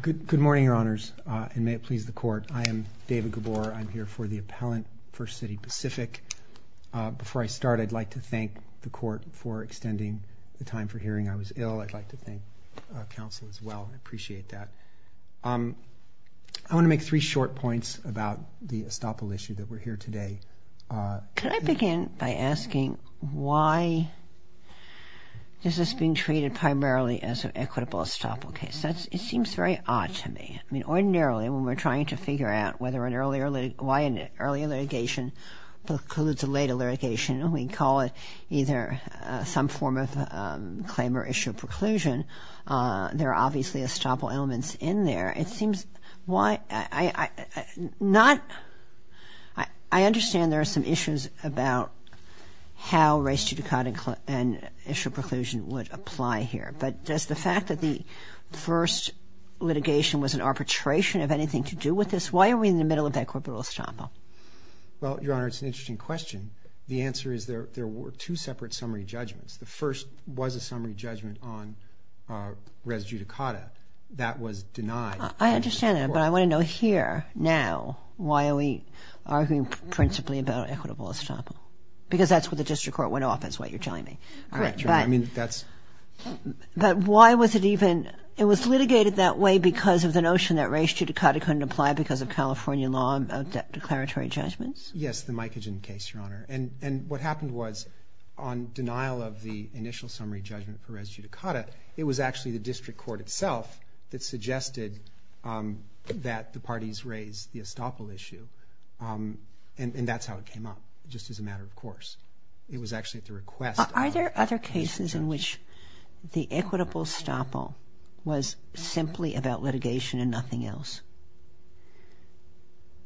Good morning, Your Honors, and may it please the Court. I am David Gabor. I'm here for the appellant for City Pacific. Before I start, I'd like to thank the Court for extending the time for hearing. I was ill. I'd like to thank counsel as well. I appreciate that. I want to make three short points about the estoppel issue that we're here today. Can I begin by asking why this is being treated primarily as an equitable estoppel case? It seems very odd to me. I mean, ordinarily, when we're trying to figure out why an earlier litigation precludes a later litigation, we call it either some form of claim or issue of preclusion. There are obviously estoppel elements in there. I understand there are some issues about how race judicata and issue of preclusion would apply here, but does the fact that the first litigation was an arbitration have anything to do with this? Why are we in the middle of that equitable estoppel? Well, Your Honor, it's an interesting question. The answer is there were two separate summary judgments. The first was a summary judgment on race judicata. That was denied. I understand that, but I want to know here, now, why are we arguing principally about equitable estoppel? Because that's where the district court went off, is what you're telling me. Correct, Your Honor. I mean, that's... But why was it even... It was litigated that way because of the notion that race judicata couldn't apply because of California law of declaratory judgments? Yes, the Micogen case, Your Honor. And what happened was, on denial of the initial summary judgment for race judicata, it was actually the district court itself that suggested that the parties raise the estoppel issue. And that's how it came up, just as a matter of course. It was actually at the request of the district court. Are there other cases in which the equitable estoppel was simply about litigation and nothing else?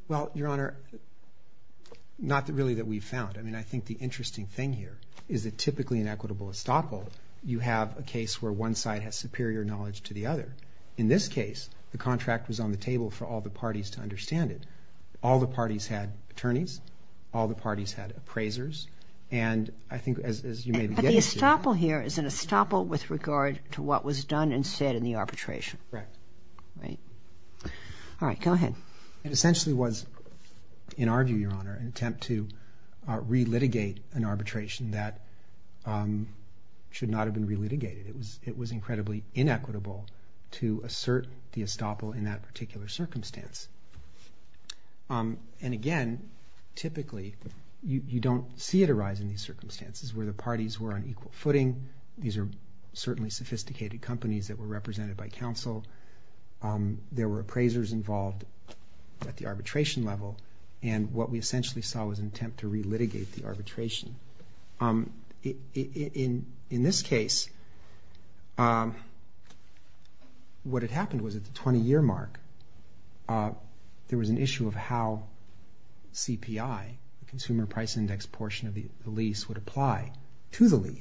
Well, Your Honor, not really that we've found. I mean, I think the interesting thing here is that typically in equitable estoppel, you have a case where one side has superior knowledge to the other. In this case, the contract was on the table for all the parties to understand it. All the parties had attorneys. All the parties had appraisers. And I think, as you may be getting... But the estoppel here is an estoppel with regard to what was done and said in the arbitration. Right. All right. Go ahead. It essentially was, in our view, Your Honor, an attempt to relitigate an arbitration that should not have been relitigated. It was incredibly inequitable to assert the estoppel in that particular circumstance. And again, typically, you don't see it arise in these circumstances where the parties were on the table. There were appraisers involved at the arbitration level. And what we essentially saw was an attempt to relitigate the arbitration. In this case, what had happened was at the 20-year mark, there was an issue of how CPI, the Consumer Price Index portion of the lease, would apply to the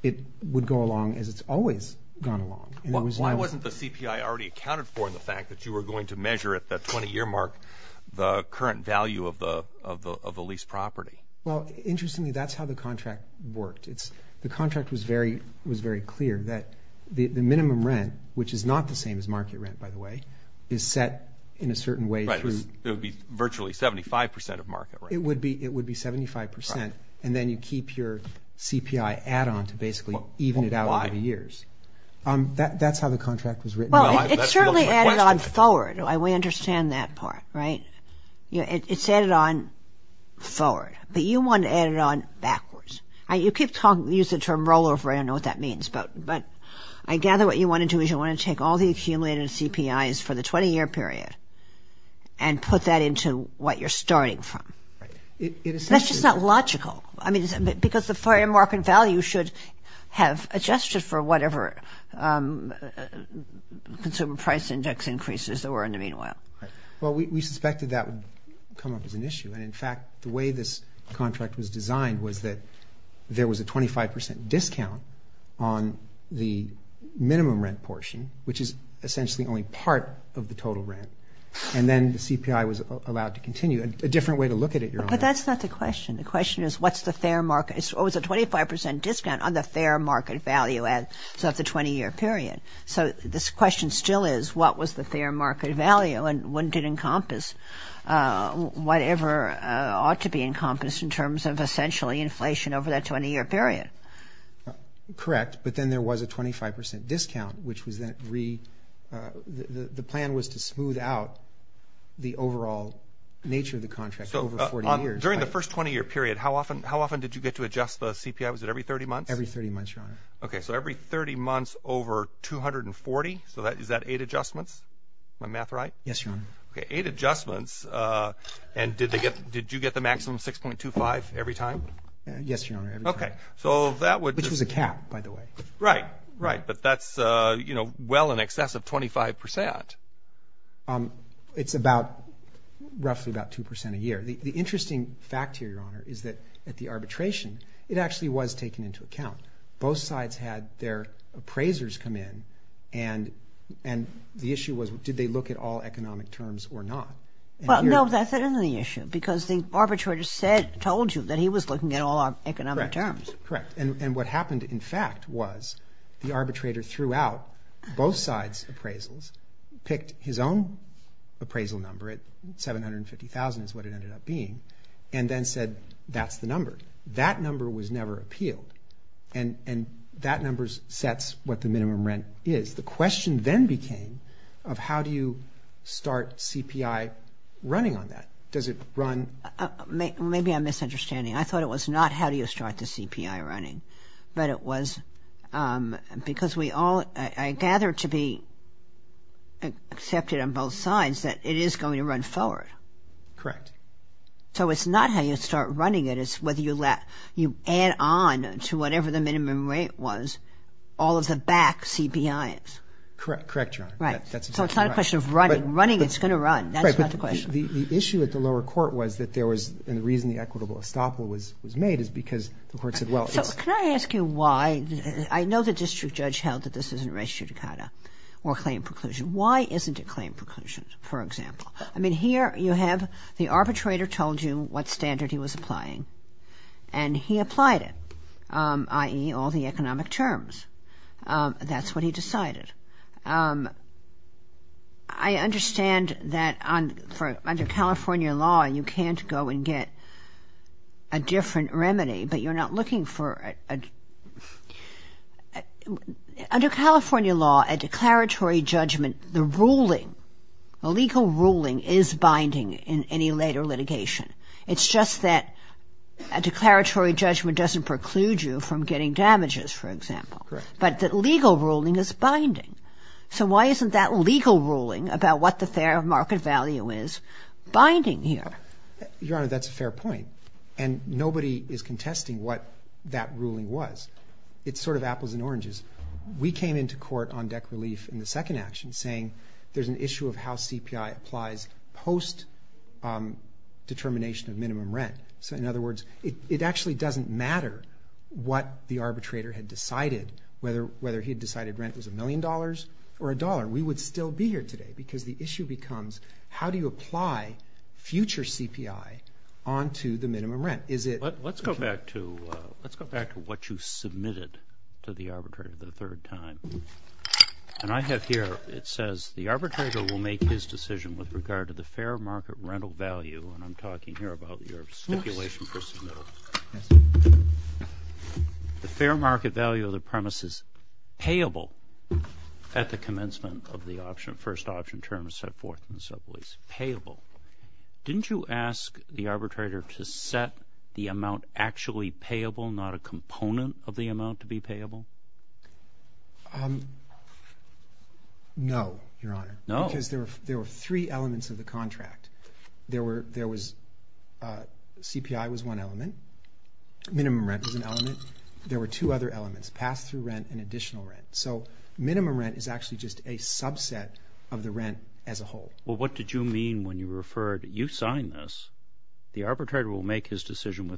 It would go along as it's always gone along. Why wasn't the CPI already accounted for in the fact that you were going to measure at the 20-year mark the current value of the lease property? Well, interestingly, that's how the contract worked. The contract was very clear that the minimum rent, which is not the same as market rent, by the way, is set in a certain way through... Right. It would be virtually 75 percent of market rent. It would be 75 percent. Right. And then you keep your CPI add-on to basically even it out over the years. Why? That's how the contract was written. Well, it certainly added on forward. We understand that part, right? It's added on forward, but you want to add it on backwards. You keep using the term rollover. I don't know what that means, but I gather what you want to do is you want to take all the accumulated CPIs for the 20-year period and put that into what you're starting from. Right. It essentially... That's just not logical. I mean, because the fire market value should have adjusted for whatever consumer price index increases there were in the meanwhile. Right. Well, we suspected that would come up as an issue, and in fact, the way this contract was designed was that there was a 25 percent discount on the minimum rent which is essentially only part of the total rent, and then the CPI was allowed to continue. A different way to look at it, Your Honor. But that's not the question. The question is what's the fair market... It was a 25 percent discount on the fair market value of the 20-year period. So this question still is what was the fair market value and what did encompass whatever ought to be encompassed in terms of essentially inflation over that 20-year period. Correct. But then there was a 25 percent discount which was then... The plan was to smooth out the overall nature of the contract over 40 years. During the first 20-year period, how often did you get to adjust the CPI? Was it every 30 months? Every 30 months, Your Honor. Okay. So every 30 months over 240. So is that eight adjustments? Am I math right? Yes, Your Honor. Okay. Eight adjustments. And did you get the maximum 6.25 every time? Yes, Your Honor. Okay. So that would... Which was a cap, by the way. Right. Right. But that's, you know, well in excess of 25 percent. It's about roughly about two percent a year. The interesting fact here, Your Honor, is that at the arbitration, it actually was taken into account. Both sides had their appraisers come in and the issue was did they look at all economic terms or not? Well, no, that's another issue because the arbitrator said, told you that he was looking at all our economic terms. Correct. Correct. And what happened, in fact, was the arbitrator threw out both sides' appraisals, picked his own appraisal number at $750,000 is what it ended up being, and then said, that's the number. That number was never appealed. And that number sets what the minimum rent is. The question then became of how do you start CPI running on that? Does it run... Maybe I'm misunderstanding. I thought it was not how do you start the CPI running, but it was because we all, I gather to be accepted on both sides that it is going to run forward. Correct. So it's not how you start running it, it's whether you add on to whatever the minimum rate was all of the back CPIs. Correct. Correct, Your Honor. Right. So it's not a question of running. Running, it's going to run. That's not the question. Right, but the issue at the lower court was that there was, and the reason the equitable estoppel was made is because the court said, well, it's... So can I ask you why? I know the district judge held that this is an arrest judicata or claim preclusion. Why isn't it claim preclusion, for example? I mean, here you have the arbitrator told you what standard he was applying, and he applied it, i.e., all the economic terms. That's what he decided. I understand that under California law, you can't go and get a different remedy, but you're not looking for... Under California law, a declaratory judgment, the ruling, a legal ruling is binding in any later litigation. It's just that a declaratory judgment doesn't preclude you from getting damages, for example, but the legal ruling is binding. So why isn't that legal ruling about what the fair market value is binding here? Your Honor, that's a fair point, and nobody is contesting what that ruling was. It's sort of apples and oranges. We came into court on deck relief in the second action, saying there's an issue of how CPI applies post-determination of minimum rent. So in other words, it actually doesn't matter what the arbitrator had decided, whether he had decided rent was a million dollars or a dollar. We would still be here today, because the issue becomes how do you apply future CPI onto the minimum rent? Let's go back to what you submitted to the arbitrator the third time. And I have here, it says, the arbitrator will make his decision with regard to the fair market rental value, and I'm talking here about your stipulation for submittal. The fair market value of the premise is payable at the commencement of the option, first option term set forth in the sublease, payable. Didn't you ask the arbitrator to set the amount actually payable, not a component of the amount to be payable? No, Your Honor. Because there were three elements of the contract. There was CPI was one element. Minimum rent was an element. There were two other elements, pass-through rent and additional rent. So minimum rent is actually just a subset of the rent as a whole. Well, what did you mean when you referred, you sign this, the arbitrator will make his premises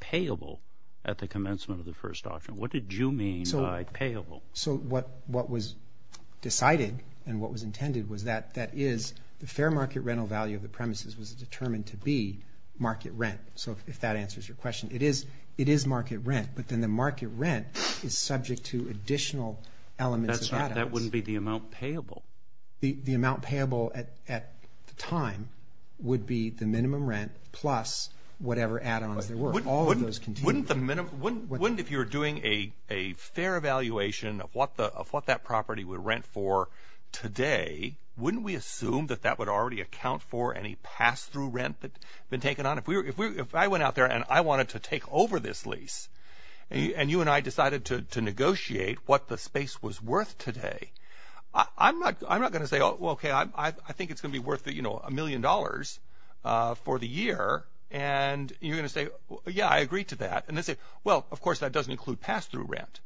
payable at the commencement of the first option? What did you mean by payable? So what was decided and what was intended was that that is the fair market rental value of the premises was determined to be market rent. So if that answers your question, it is market rent, but then the market rent is subject to additional elements. That wouldn't be the amount payable. The amount payable at the time would be the minimum rent plus whatever add-ons there were. Wouldn't if you're doing a fair evaluation of what that property would rent for today, wouldn't we assume that that would already account for any pass-through rent that been taken on? If I went out there and I wanted to take over this lease and you and I decided to negotiate what the space was worth today, I'm not going to say, oh, well, OK, I think it's going to be worth a million dollars for the year. And you're going to say, yeah, I agree to that. And they say, well, of course, that doesn't include pass-through rent.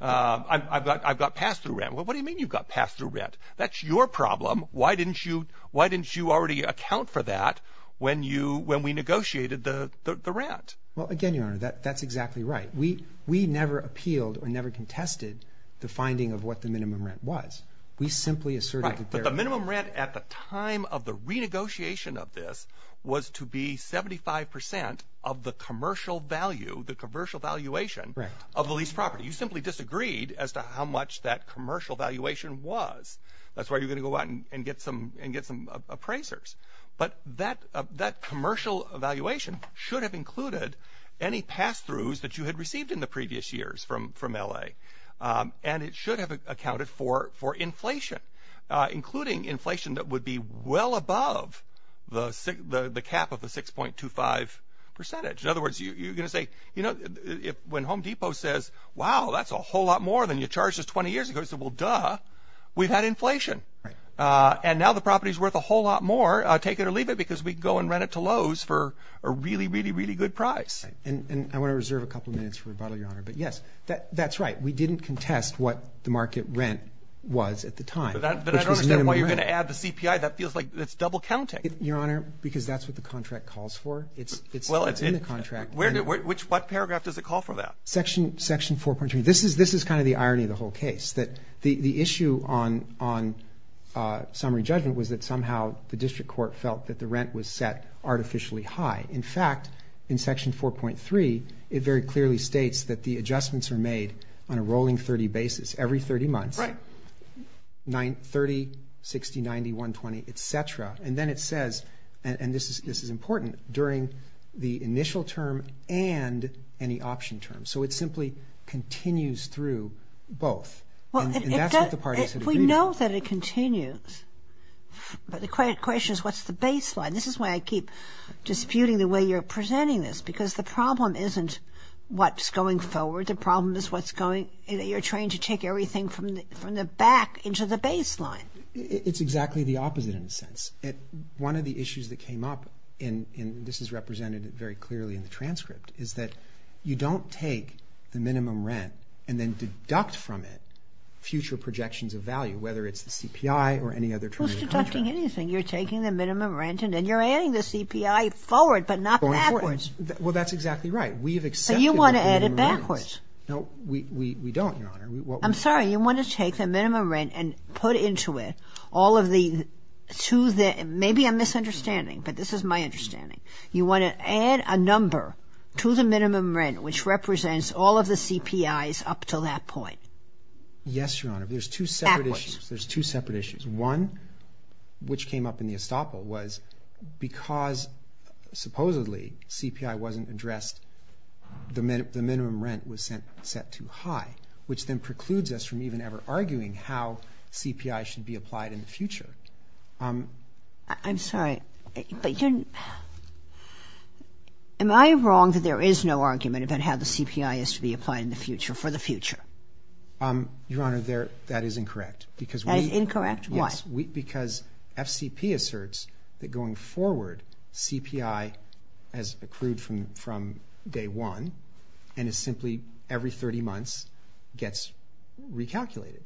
I've got pass-through rent. Well, what do you mean you've got pass-through rent? That's your problem. Why didn't you already account for that when we negotiated the rent? Well, again, Your Honor, that's exactly right. We never appealed or never contested the finding of what the minimum rent was. We simply asserted that there... Right, but the minimum rent at the time of the renegotiation of this was to be 75% of the commercial value, the commercial valuation of the lease property. You simply disagreed as to how much that commercial valuation was. That's why you're going to go out and get some appraisers. But that commercial valuation should have included any pass-throughs that you had received in the previous years from L.A. And it should have accounted for inflation, including inflation that would be well above the cap of the 6.25 percentage. In other words, you're going to say, you know, when Home Depot says, wow, that's a whole lot more than you charged us 20 years ago. Well, duh, we've had inflation. And now the property is worth a whole lot more. Take it or leave it because we can go and rent it to Lowe's for a really, really, really good price. And I want to reserve a couple of minutes for rebuttal, Your Honor. But yes, that's right. We didn't contest what the market rent was at the time. But I don't understand why you're going to add the CPI. That feels like it's double counting. Your Honor, because that's what the contract calls for. It's in the contract. What paragraph does it call for that? Section 4.3. This is kind of the irony of the whole case, that the issue on summary judgment was that somehow the district court felt that the rent was set artificially high. In fact, in Section 4.3, it very clearly states that the adjustments are made on a rolling 30 basis every 30 months, 30, 60, 90, 120, et cetera. And then it says, and this is important, during the initial term and any option term. So it simply continues through both. And that's what the parties have agreed on. We know that it continues. But the question is, what's the baseline? This is why I keep disputing the way you're presenting this because the problem isn't what's going forward. The problem is what's going, you're trying to take everything from the back into the baseline. It's exactly the opposite in a sense. One of the issues that came up, and this is represented very clearly in the transcript, is that you don't take the minimum rent and then deduct from it future projections of value, whether it's the CPI or any other terms of contract. Who's deducting anything? You're taking the minimum rent and then you're adding the CPI forward, but not backwards. Well, that's exactly right. We've accepted that minimum rent. So you want to add it backwards. No, we don't, Your Honor. I'm sorry. You want to take the minimum rent and put into it all of the, to the, number to the minimum rent, which represents all of the CPIs up to that point. Yes, Your Honor. Backwards. There's two separate issues. There's two separate issues. One, which came up in the estoppel, was because supposedly CPI wasn't addressed, the minimum rent was set too high, which then precludes us from even ever arguing how CPI should be applied in the future. Um, I'm sorry, but you're, am I wrong that there is no argument about how the CPI is to be applied in the future, for the future? Um, Your Honor, there, that is incorrect. That is incorrect? Why? Yes, we, because FCP asserts that going forward, CPI has accrued from, from day one and is simply every 30 months gets recalculated.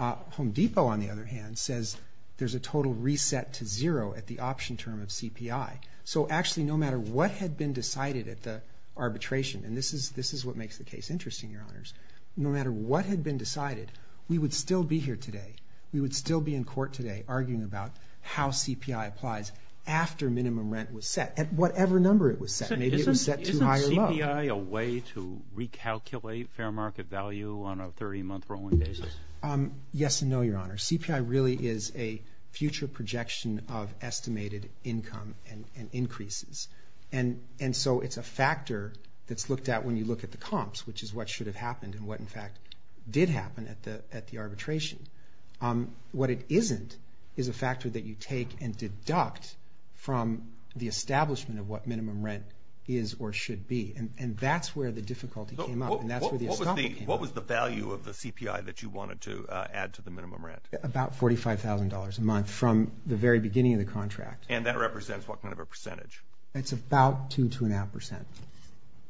Home Depot, on the other hand, says there's a total reset to zero at the option term of CPI. So actually, no matter what had been decided at the arbitration, and this is, this is what makes the case interesting, Your Honors. No matter what had been decided, we would still be here today. We would still be in court today arguing about how CPI applies after minimum rent was set, at whatever number it was set. Maybe it was set too high or low. Isn't CPI a way to recalculate fair market value on a 30 month rolling basis? Yes and no, Your Honor. CPI really is a future projection of estimated income and, and increases. And, and so it's a factor that's looked at when you look at the comps, which is what should have happened and what, in fact, did happen at the, at the arbitration. Um, what it isn't is a factor that you take and deduct from the establishment of what minimum rent is or should be. And, and that's where the difficulty came up. And that's where the escalation came up. What was the value of the CPI that you wanted to, uh, add to the minimum rent? About $45,000 a month from the very beginning of the contract. And that represents what kind of a percentage? It's about two, two and a half percent.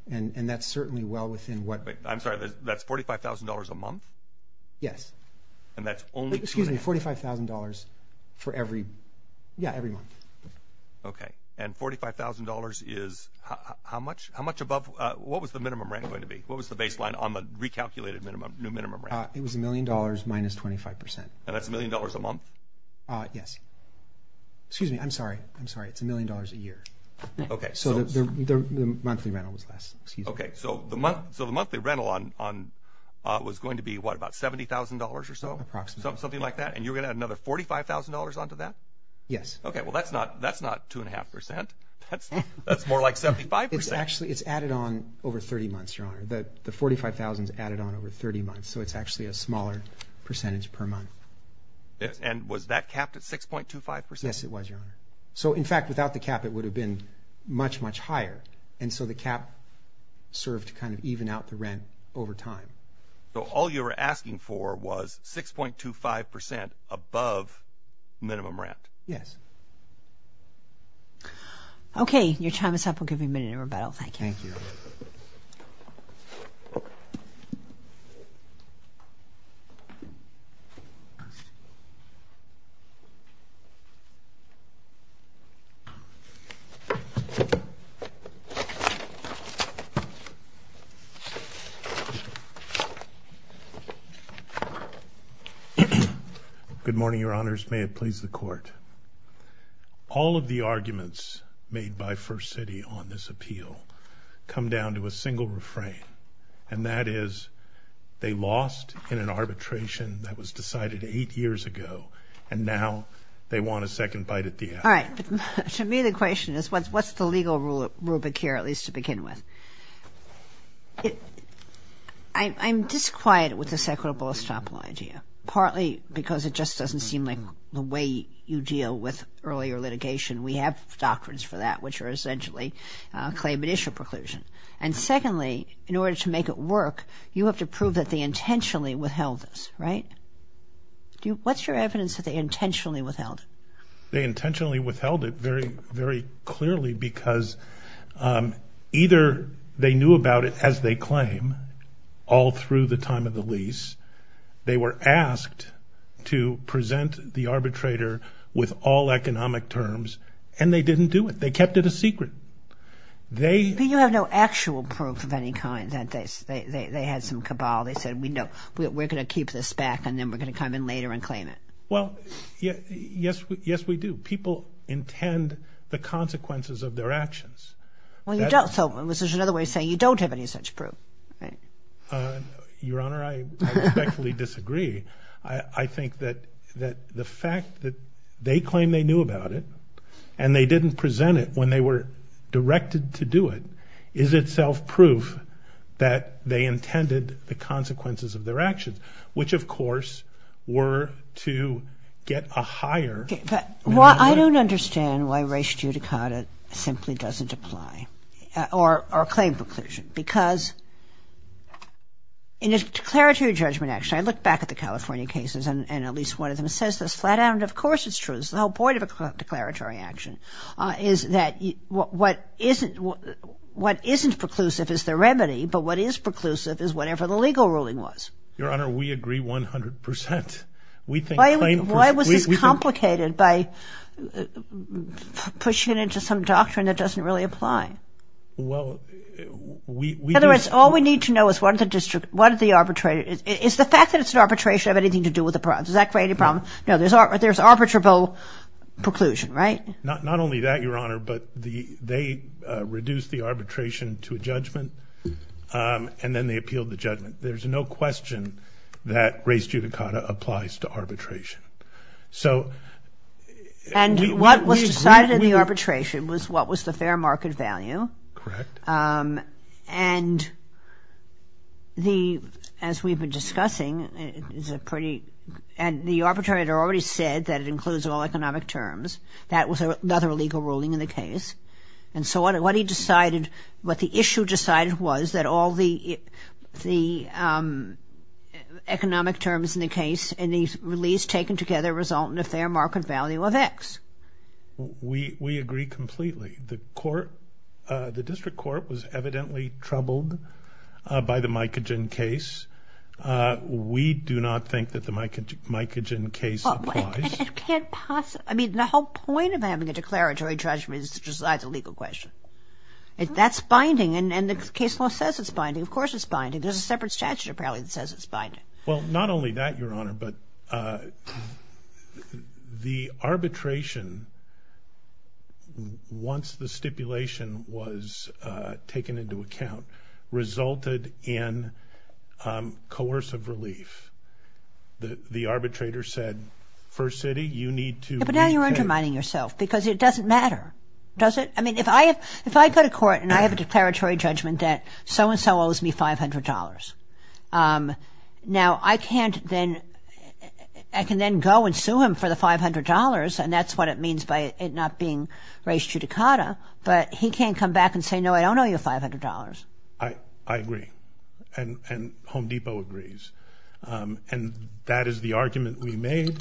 And, and that's certainly well within what... I'm sorry, that's $45,000 a month? Yes. And that's only... Excuse me, $45,000 for every, yeah, every month. Okay. And $45,000 is how, how much, how much above, uh, what was the minimum rent going to be? What was the baseline on the recalculated minimum, new minimum rent? It was $1,000,000 minus 25%. And that's $1,000,000 a month? Uh, yes. Excuse me, I'm sorry, I'm sorry. It's $1,000,000 a year. Okay. So the, the, the monthly rental was less, excuse me. Okay. So the month, so the monthly rental on, on, uh, was going to be what? About $70,000 or so? Approximately. Something like that? And you're going to add another $45,000 onto that? Yes. Okay. Well, that's not, that's not two and a half percent. That's, that's more like 75%. It's actually, it's added on over 30 months, Your Honor. The 45,000 is added on over 30 months. So it's actually a smaller percentage per month. And was that capped at 6.25%? Yes, it was, Your Honor. So in fact, without the cap, it would have been much, much higher. And so the cap served to kind of even out the rent over time. So all you were asking for was 6.25% above minimum rent? Yes. Okay. Your time is up. We'll give you a minute to rebuttal. Thank you. Thank you. Okay. Good morning, Your Honors. May it please the Court. All of the arguments made by First City on this appeal come down to a single refrain. And that is, they lost in an arbitration that was decided eight years ago. And now they want a second bite at the apple. All right. To me, the question is, what's the legal rubric here, at least to begin with? I'm disquieted with this equitable estoppel idea. Partly because it just doesn't seem like the way you deal with earlier litigation. We have doctrines for that, which are essentially claim and issue preclusion. And secondly, in order to make it work, you have to prove that they intentionally withheld this, right? What's your evidence that they intentionally withheld it? They intentionally withheld it very, very clearly because either they knew about it as they claim all through the time of the lease. They were asked to present the arbitrator with all economic terms. And they didn't do it. They kept it a secret. They... But you have no actual proof of any kind that they had some cabal. They said, we know we're going to keep this back. And then we're going to come in later and claim it. Well, yes, yes, we do. People intend the consequences of their actions. Well, you don't. So this is another way of saying you don't have any such proof. Your Honor, I respectfully disagree. I think that the fact that they claim they knew about it and they didn't present it when they were directed to do it, is itself proof that they intended the consequences of their actions, which, of course, were to get a higher... I don't understand why res judicata simply doesn't apply or claim preclusion. Because in a declaratory judgment action, I look back at the California cases, and at least one of them says this flat out. And of course, it's true. The whole point of a declaratory action is that what isn't preclusive is the remedy. But what is preclusive is whatever the legal ruling was. Your Honor, we agree 100 percent. Why was this complicated by pushing it into some doctrine that doesn't really apply? Well, we... In other words, all we need to know is what the district, what the arbitrator... Is the fact that it's an arbitration have anything to do with the problem? Does that create a problem? No, there's arbitrable preclusion, right? Not only that, Your Honor, but they reduced the arbitration to a judgment, and then they appealed the judgment. There's no question that res judicata applies to arbitration. So... And what was decided in the arbitration was what was the fair market value. Correct. And the, as we've been discussing, is a pretty... The arbitrator already said that it includes all economic terms. That was another legal ruling in the case. And so what he decided, what the issue decided was that all the economic terms in the case and the release taken together result in a fair market value of X. We agree completely. The court, the district court was evidently troubled by the mycogen case. Uh, we do not think that the mycogen case applies. It can't possibly... I mean, the whole point of having a declaratory judgment is to decide the legal question. That's binding, and the case law says it's binding. Of course it's binding. There's a separate statute, apparently, that says it's binding. Well, not only that, Your Honor, but the arbitration, once the stipulation was taken into account, resulted in, um, coercive relief. The arbitrator said, First City, you need to... But now you're undermining yourself, because it doesn't matter, does it? I mean, if I have, if I go to court and I have a declaratory judgment that so-and-so owes me $500, um, now I can't then... I can then go and sue him for the $500, and that's what it means by it not being race judicata, but he can't come back and say, No, I don't owe you $500. I, I agree, and, and Home Depot agrees. And that is the argument we made,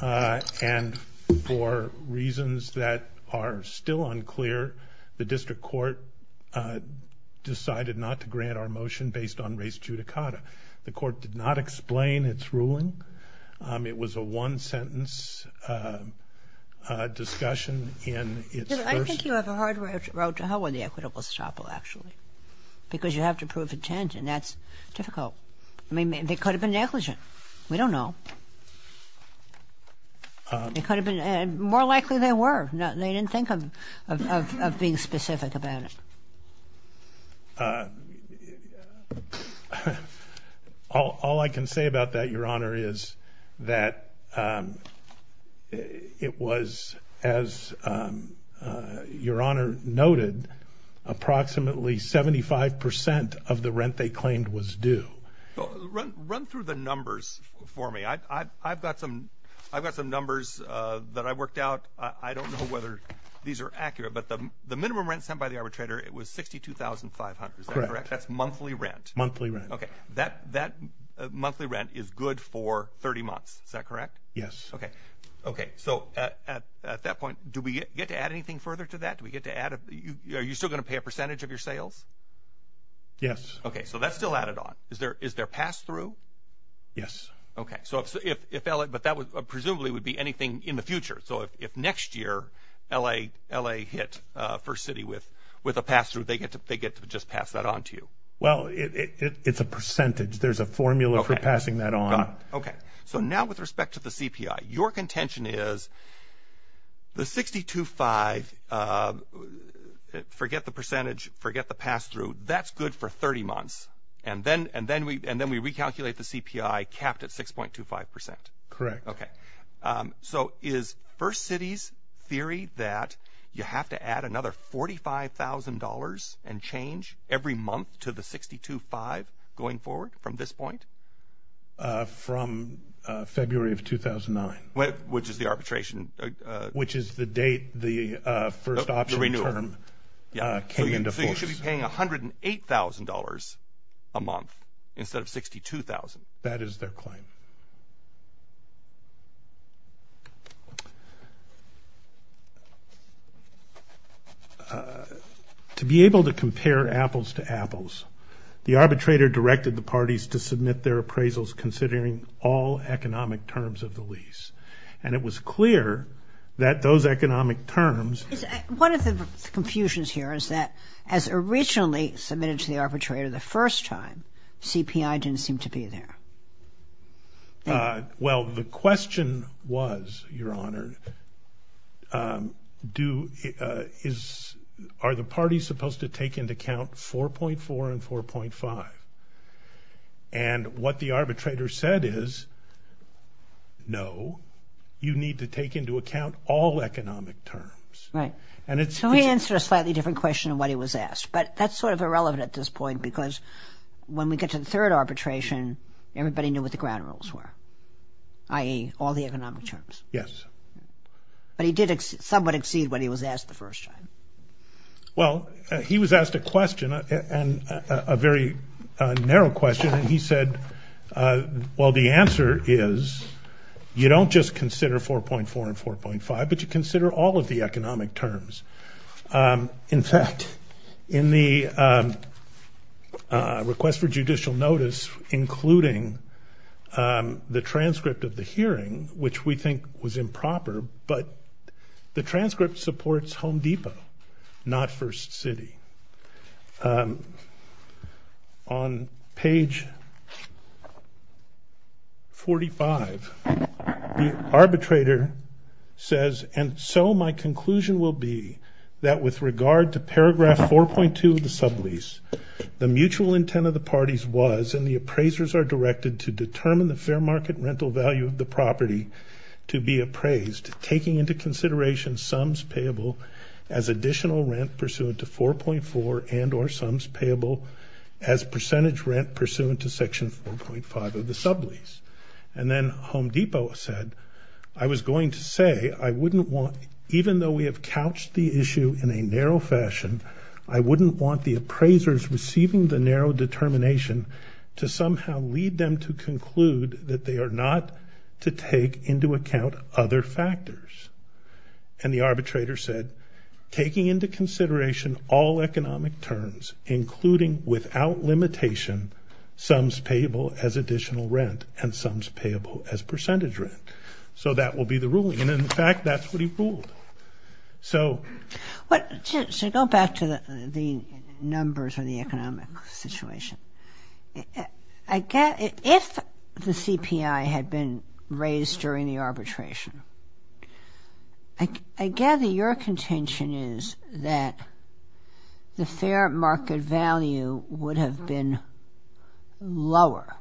uh, and for reasons that are still unclear, the district court, uh, decided not to grant our motion based on race judicata. The court did not explain its ruling. Um, it was a one-sentence, uh, uh, discussion in its first... I think you have a hard road to hoe in the equitable staple, actually, because you have to prove intent, and that's difficult. I mean, they could have been negligent. We don't know. They could have been, and more likely they were. They didn't think of, of, of being specific about it. Uh, all, all I can say about that, Your Honor, is that, um, it was, as, um, uh, Your Honor noted, approximately 75% of the rent they claimed was due. Run through the numbers for me. I, I, I've got some, I've got some numbers, uh, that I worked out. I don't know whether these are accurate, but the, the minimum rent sent by the arbitrator, it was $62,500, is that correct? That's monthly rent. Monthly rent. Okay. That, that monthly rent is good for 30 months, is that correct? Yes. Okay. Okay. So at, at, at that point, do we get to add anything further to that? Do we get to add a, you, are you still going to pay a percentage of your sales? Yes. Okay. So that's still added on. Is there, is there pass through? Yes. Okay. So if, if, if LA, but that was presumably would be anything in the future. So if, if next year LA, LA hit, uh, First City with, with a pass through, they get to, they get to just pass that on to you. Well, it, it, it, it's a percentage. There's a formula for passing that on. Okay. So now with respect to the CPI, your contention is the 60 to five, uh, forget the percentage, forget the pass through that's good for 30 months. And then, and then we, and then we recalculate the CPI capped at 6.25%. Correct. Okay. So is First Cities theory that you have to add another $45,000 and change every month to the 60 to five going forward from this point? Uh, from, uh, February of 2009, which is the arbitration, uh, which is the date, the, uh, first option term, uh, came into force. So you should be paying $108,000 a month instead of 62,000. That is their claim. Uh, to be able to compare apples to apples, the arbitrator directed the parties to submit their appraisals considering all economic terms of the lease. And it was clear that those economic terms... Is, uh, one of the confusions here is that as originally submitted to the arbitrator the first time, CPI didn't seem to be there. Uh, well, the question was, Your Honor, um, do, uh, is, are the parties supposed to take into account 4.4 and 4.5? And what the arbitrator said is, no, you need to take into account all economic terms. Right. And it's... So he answered a slightly different question than what he was asked, but that's sort of irrelevant at this point because when we get to the third arbitration, everybody knew what the ground rules were, i.e. all the economic terms. Yes. But he did somewhat exceed what he was asked the first time. Well, he was asked a question, and a very, uh, narrow question. And he said, uh, well, the answer is, you don't just consider 4.4 and 4.5, but you consider all of the economic terms. Um, in fact, in the, um, uh, request for judicial notice, including, um, the transcript of the hearing, which we think was improper, but the transcript supports Home Depot, not First City. Um, on page 45, the arbitrator says, and so my conclusion will be that with regard to paragraph 4.2 of the sublease, the mutual intent of the parties was, and the appraisers are directed to determine the fair market rental value of the property to be appraised, taking into consideration sums payable as additional rent pursuant to 4.4 and or sums payable as percentage rent pursuant to section 4.5 of the sublease. And then Home Depot said, I was going to say, I wouldn't want, even though we have couched the issue in a narrow fashion, I wouldn't want the appraisers receiving the narrow determination to somehow lead them to conclude that they are not to take into account other factors. And the arbitrator said, taking into consideration all economic terms, including without limitation, sums payable as additional rent and sums payable as percentage rent. So that will be the ruling. And in fact, that's what he ruled. So. But to go back to the numbers or the economic situation, if the CPI had been raised during the arbitration, I gather your contention is that the fair market value would have been lower.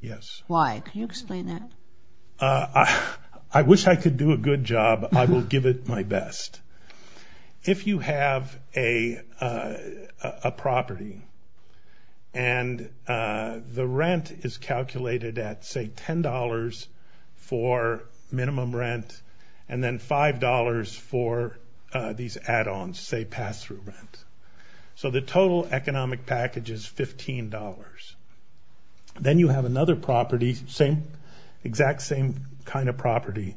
Yes. Why? Can you explain that? I wish I could do a good job. I will give it my best. If you have a property and the rent is calculated at, say, $10 for minimum rent and then $5 for these add-ons, say, pass-through rent. So the total economic package is $15. Then you have another property, exact same kind of property,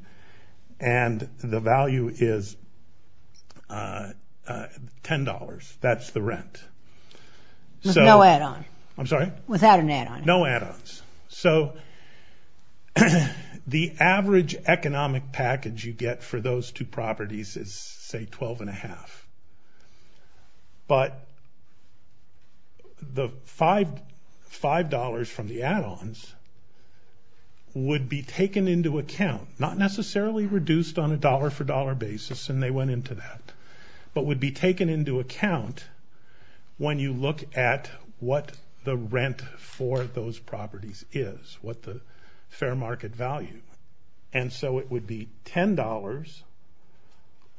and the value is $10. That's the rent. With no add-on. I'm sorry? Without an add-on. No add-ons. So the average economic package you get for those two properties is, say, $12.50. But the $5 from the add-ons would be taken into account, not necessarily reduced on a dollar for dollar basis, and they went into that, but would be taken into account when you look at what the rent for those properties is, what the fair market value. And so it would be $10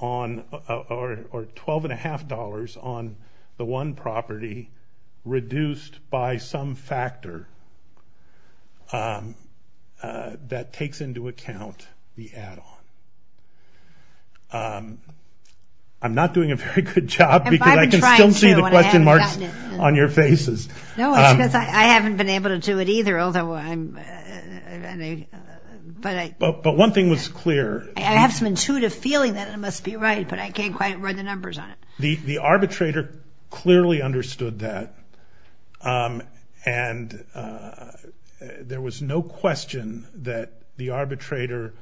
on, or $12.50 on the one property reduced by some factor that takes into account the add-on. I'm not doing a very good job because I can still see the question marks on your faces. No, it's because I haven't been able to do it either. But one thing was clear. I have some intuitive feeling that it must be right, but I can't quite read the numbers on it. The arbitrator clearly understood that, and there was no question that the arbitrator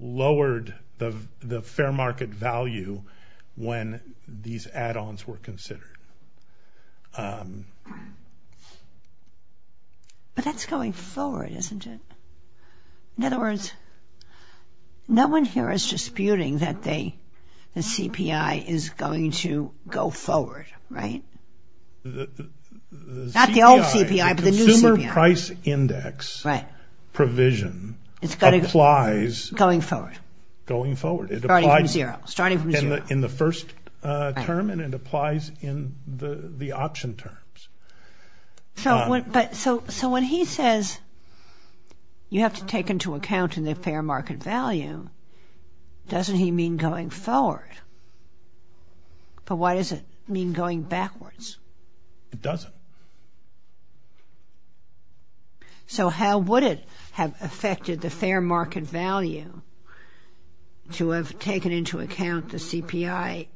lowered the fair market value when these add-ons were considered. But that's going forward, isn't it? In other words, no one here is disputing that the CPI is going to go forward, right? Not the old CPI, but the new CPI. The consumer price index provision applies... in the first term, and it applies in the option terms. So when he says you have to take into account the fair market value, doesn't he mean going forward? But what does it mean going backwards? It doesn't. So how would it have affected the fair market value to have taken into account the CPI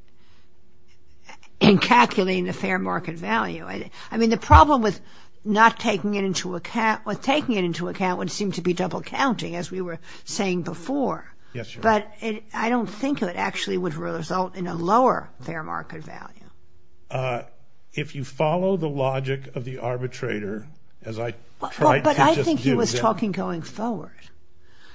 in calculating the fair market value? I mean, the problem with not taking it into account, with taking it into account would seem to be double counting, as we were saying before. Yes, sure. But I don't think it actually would result in a lower fair market value. Uh, if you follow the logic of the arbitrator, as I tried to just do... But I think he was talking going forward.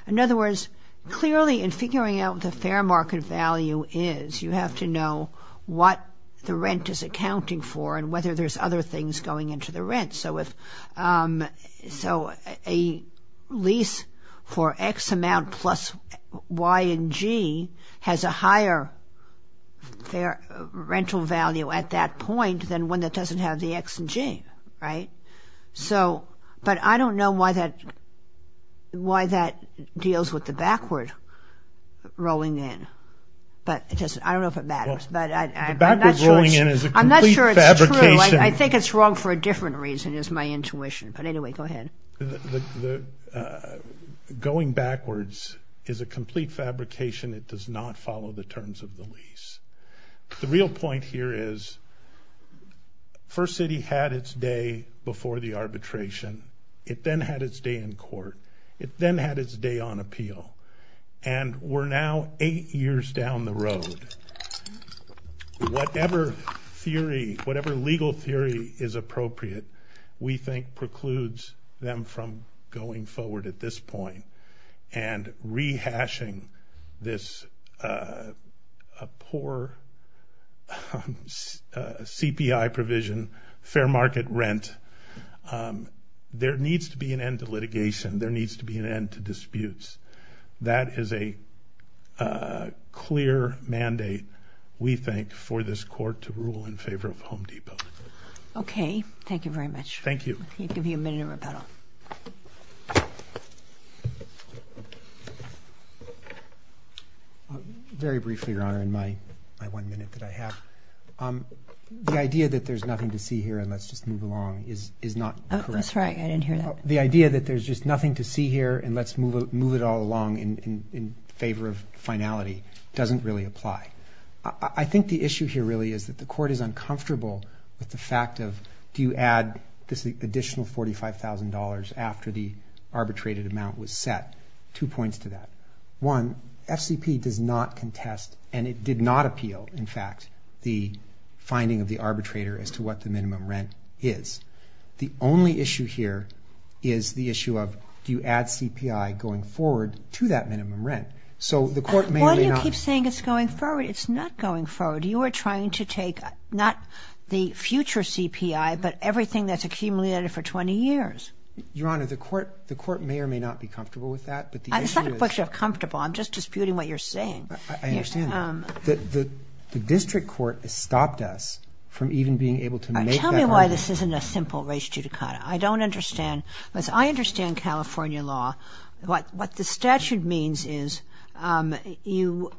In other words, clearly in figuring out what the fair market value is, you have to know what the rent is accounting for and whether there's other things going into the rent. So if, um, so a lease for X amount plus Y and G has a higher fair rental value at that point than one that doesn't have the X and G, right? So, but I don't know why that, why that deals with the backward rolling in, but it doesn't, I don't know if it matters, but I'm not sure it's true. I'm not sure it's true. I think it's wrong for a different reason is my intuition. But anyway, go ahead. The, the, uh, going backwards is a complete fabrication. It does not follow the terms of the lease. The real point here is First City had its day before the arbitration. It then had its day in court. It then had its day on appeal. And we're now eight years down the road. And whatever theory, whatever legal theory is appropriate, we think precludes them from going forward at this point and rehashing this, uh, a poor, um, uh, CPI provision, fair market rent. Um, there needs to be an end to litigation. There needs to be an end to disputes. That is a, uh, clear mandate, we think, for this court to rule in favor of Home Depot. Okay. Thank you very much. Thank you. I'll give you a minute of rebuttal. Very briefly, Your Honor, in my, my one minute that I have, um, the idea that there's nothing to see here and let's just move along is, is not correct. That's right. I didn't hear that. The idea that there's just nothing to see here and let's move, move it all along in, in favor of finality doesn't really apply. I think the issue here really is that the court is uncomfortable with the fact of, do you add this additional $45,000 after the arbitrated amount was set? Two points to that. One, FCP does not contest, and it did not appeal, in fact, the finding of the arbitrator as to what the minimum rent is. The only issue here is the issue of, do you add CPI going forward to that minimum rent? So the court may or may not... Why do you keep saying it's going forward? It's not going forward. You are trying to take, not the future CPI, but everything that's accumulated for 20 years. Your Honor, the court, the court may or may not be comfortable with that, but the issue is... It's not a question of comfortable. I'm just disputing what you're saying. I understand that. The district court has stopped us from even being able to make that argument. Tell me why this isn't a simple res judicata. I don't understand, because I understand California law. What the statute means is you,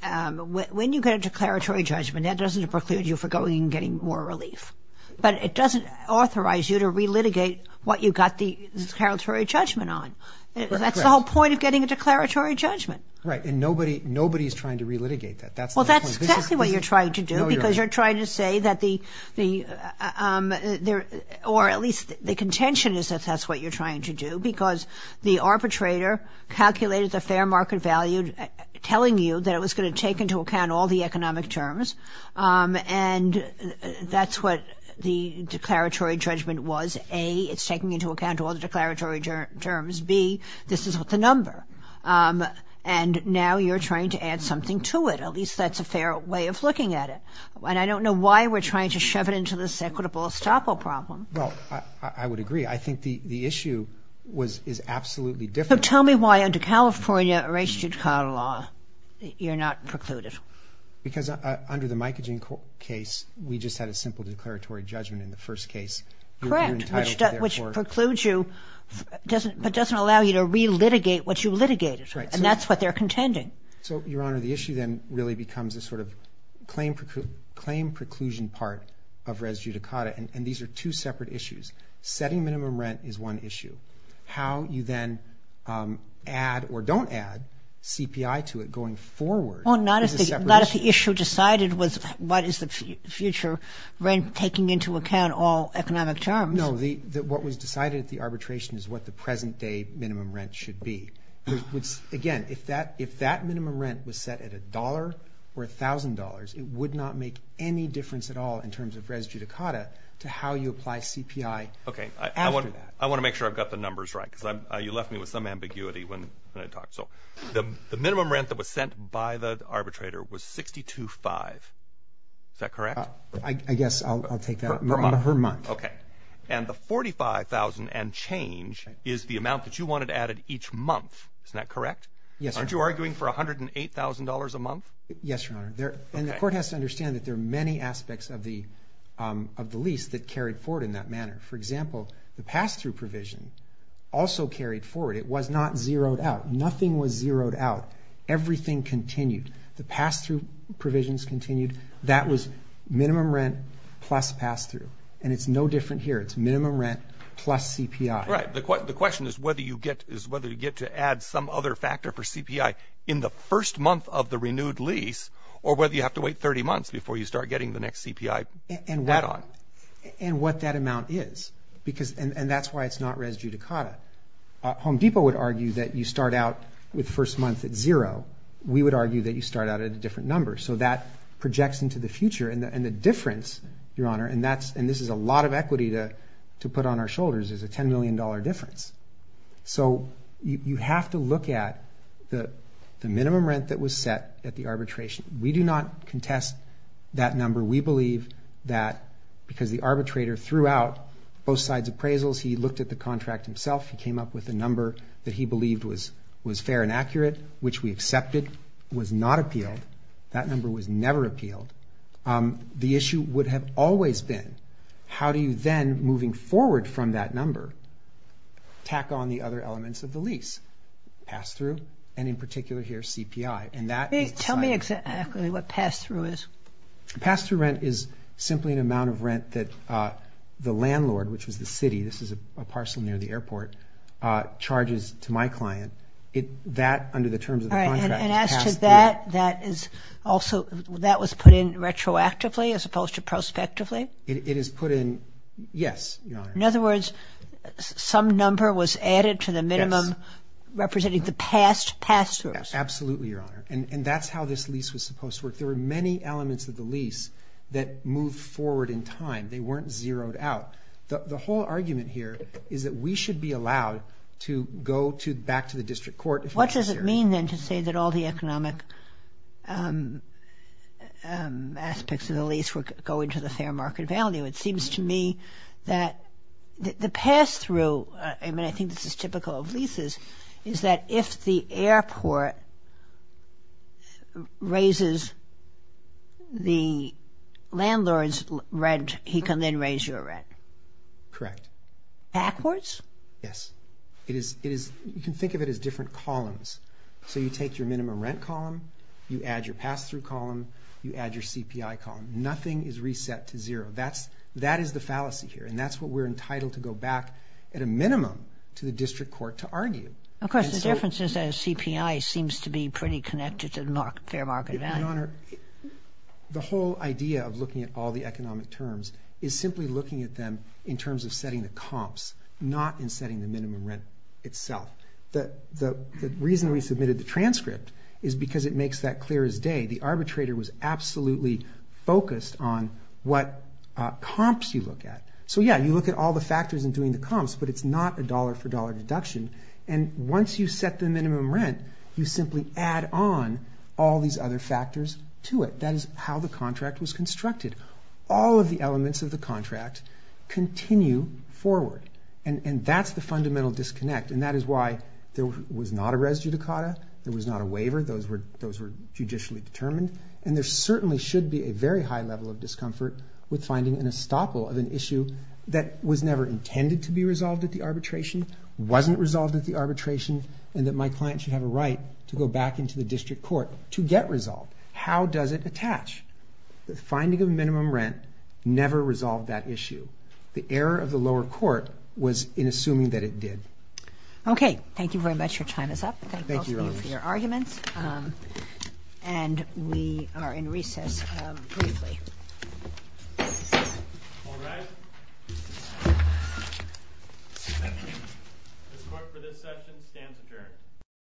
when you get a declaratory judgment, that doesn't preclude you from going and getting more relief, but it doesn't authorize you to relitigate what you got the declaratory judgment on. That's the whole point of getting a declaratory judgment. Right. And nobody's trying to relitigate that. That's the point. Well, that's exactly what you're trying to do, because you're trying to say that the... Or at least the contention is that that's what you're trying to do, because the arbitrator calculated the fair market value, telling you that it was going to take into account all the economic terms, and that's what the declaratory judgment was. A, it's taking into account all the declaratory terms. B, this is what the number. And now you're trying to add something to it. At least that's a fair way of looking at it. And I don't know why we're trying to shove it into this equitable estoppel problem. Well, I would agree. I think the issue is absolutely different. So tell me why under California res judicata law you're not precluded. Because under the Micogen case, we just had a simple declaratory judgment in the first case. Correct. Which precludes you, but doesn't allow you to relitigate what you litigated. And that's what they're contending. So, Your Honor, the issue then really becomes a sort of claim preclusion part of res judicata. And these are two separate issues. Setting minimum rent is one issue. How you then add or don't add CPI to it going forward... The issue decided was what is the future rent taking into account all economic terms. No. What was decided at the arbitration is what the present day minimum rent should be. Again, if that minimum rent was set at $1 or $1,000, it would not make any difference at all in terms of res judicata to how you apply CPI after that. I want to make sure I've got the numbers right. Because you left me with some ambiguity when I talked. So the minimum rent that was sent by the arbitrator was $62,500. Is that correct? I guess I'll take that. Per month. Per month. Okay. And the $45,000 and change is the amount that you wanted added each month. Isn't that correct? Yes, Your Honor. Aren't you arguing for $108,000 a month? Yes, Your Honor. And the court has to understand that there are many aspects of the lease that carried forward in that manner. For example, the pass-through provision also carried forward. It was not zeroed out. Nothing was zeroed out. Everything continued. The pass-through provisions continued. That was minimum rent plus pass-through. And it's no different here. It's minimum rent plus CPI. Right. The question is whether you get to add some other factor for CPI in the first month of the renewed lease or whether you have to wait 30 months before you start getting the next and that's why it's not res judicata. Home Depot would argue that you start out with first month at zero. We would argue that you start out at a different number. So that projects into the future and the difference, Your Honor, and this is a lot of equity to put on our shoulders, is a $10 million difference. So you have to look at the minimum rent that was set at the arbitration. We do not both sides appraisals. He looked at the contract himself. He came up with a number that he believed was fair and accurate, which we accepted was not appealed. That number was never appealed. The issue would have always been how do you then, moving forward from that number, tack on the other elements of the lease, pass-through, and in particular here, CPI. And tell me exactly what pass-through is. Pass-through rent is simply an amount of rent that the landlord, which is the city, this is a parcel near the airport, charges to my client. That, under the terms of the contract... And as to that, that was put in retroactively as opposed to prospectively? It is put in, yes, Your Honor. In other words, some number was added to the minimum representing the past pass-throughs. Absolutely, Your Honor, and that's how this lease was supposed to work. There were many elements of the lease that moved forward in time. They weren't zeroed out. The whole argument here is that we should be allowed to go back to the district court... What does it mean, then, to say that all the economic aspects of the lease were going to the fair market value? It seems to me that the pass-through, I mean, I think this is typical of leases, is that if the airport raises the landlord's rent, he can then raise your rent. Correct. Backwards? Yes. You can think of it as different columns. So you take your minimum rent column, you add your pass-through column, you add your CPI column. Nothing is reset to zero. That is the fallacy here, and that's what we're entitled to go back, at a minimum, to the district court to argue. Of course, the difference is that a CPI seems to be pretty connected to the fair market value. Your Honor, the whole idea of looking at all the economic terms is simply looking at them in terms of setting the comps, not in setting the minimum rent itself. The reason we submitted the transcript is because it makes that clear as day. The arbitrator was absolutely focused on what comps you look at. So, yeah, you look at all the factors in doing the comps, but it's not a dollar-for-dollar deduction, and once you set the minimum rent, you simply add on all these other factors to it. That is how the contract was constructed. All of the elements of the contract continue forward, and that's the fundamental disconnect, and that is why there was not a res judicata. There was not a waiver. Those were judicially determined, and there certainly should be a very high level of discomfort with finding an estoppel of an issue that was never intended to be resolved at the arbitration, and that my client should have a right to go back into the district court to get resolved. How does it attach? The finding of minimum rent never resolved that issue. The error of the lower court was in assuming that it did. Okay. Thank you very much. Your time is up. Thank you.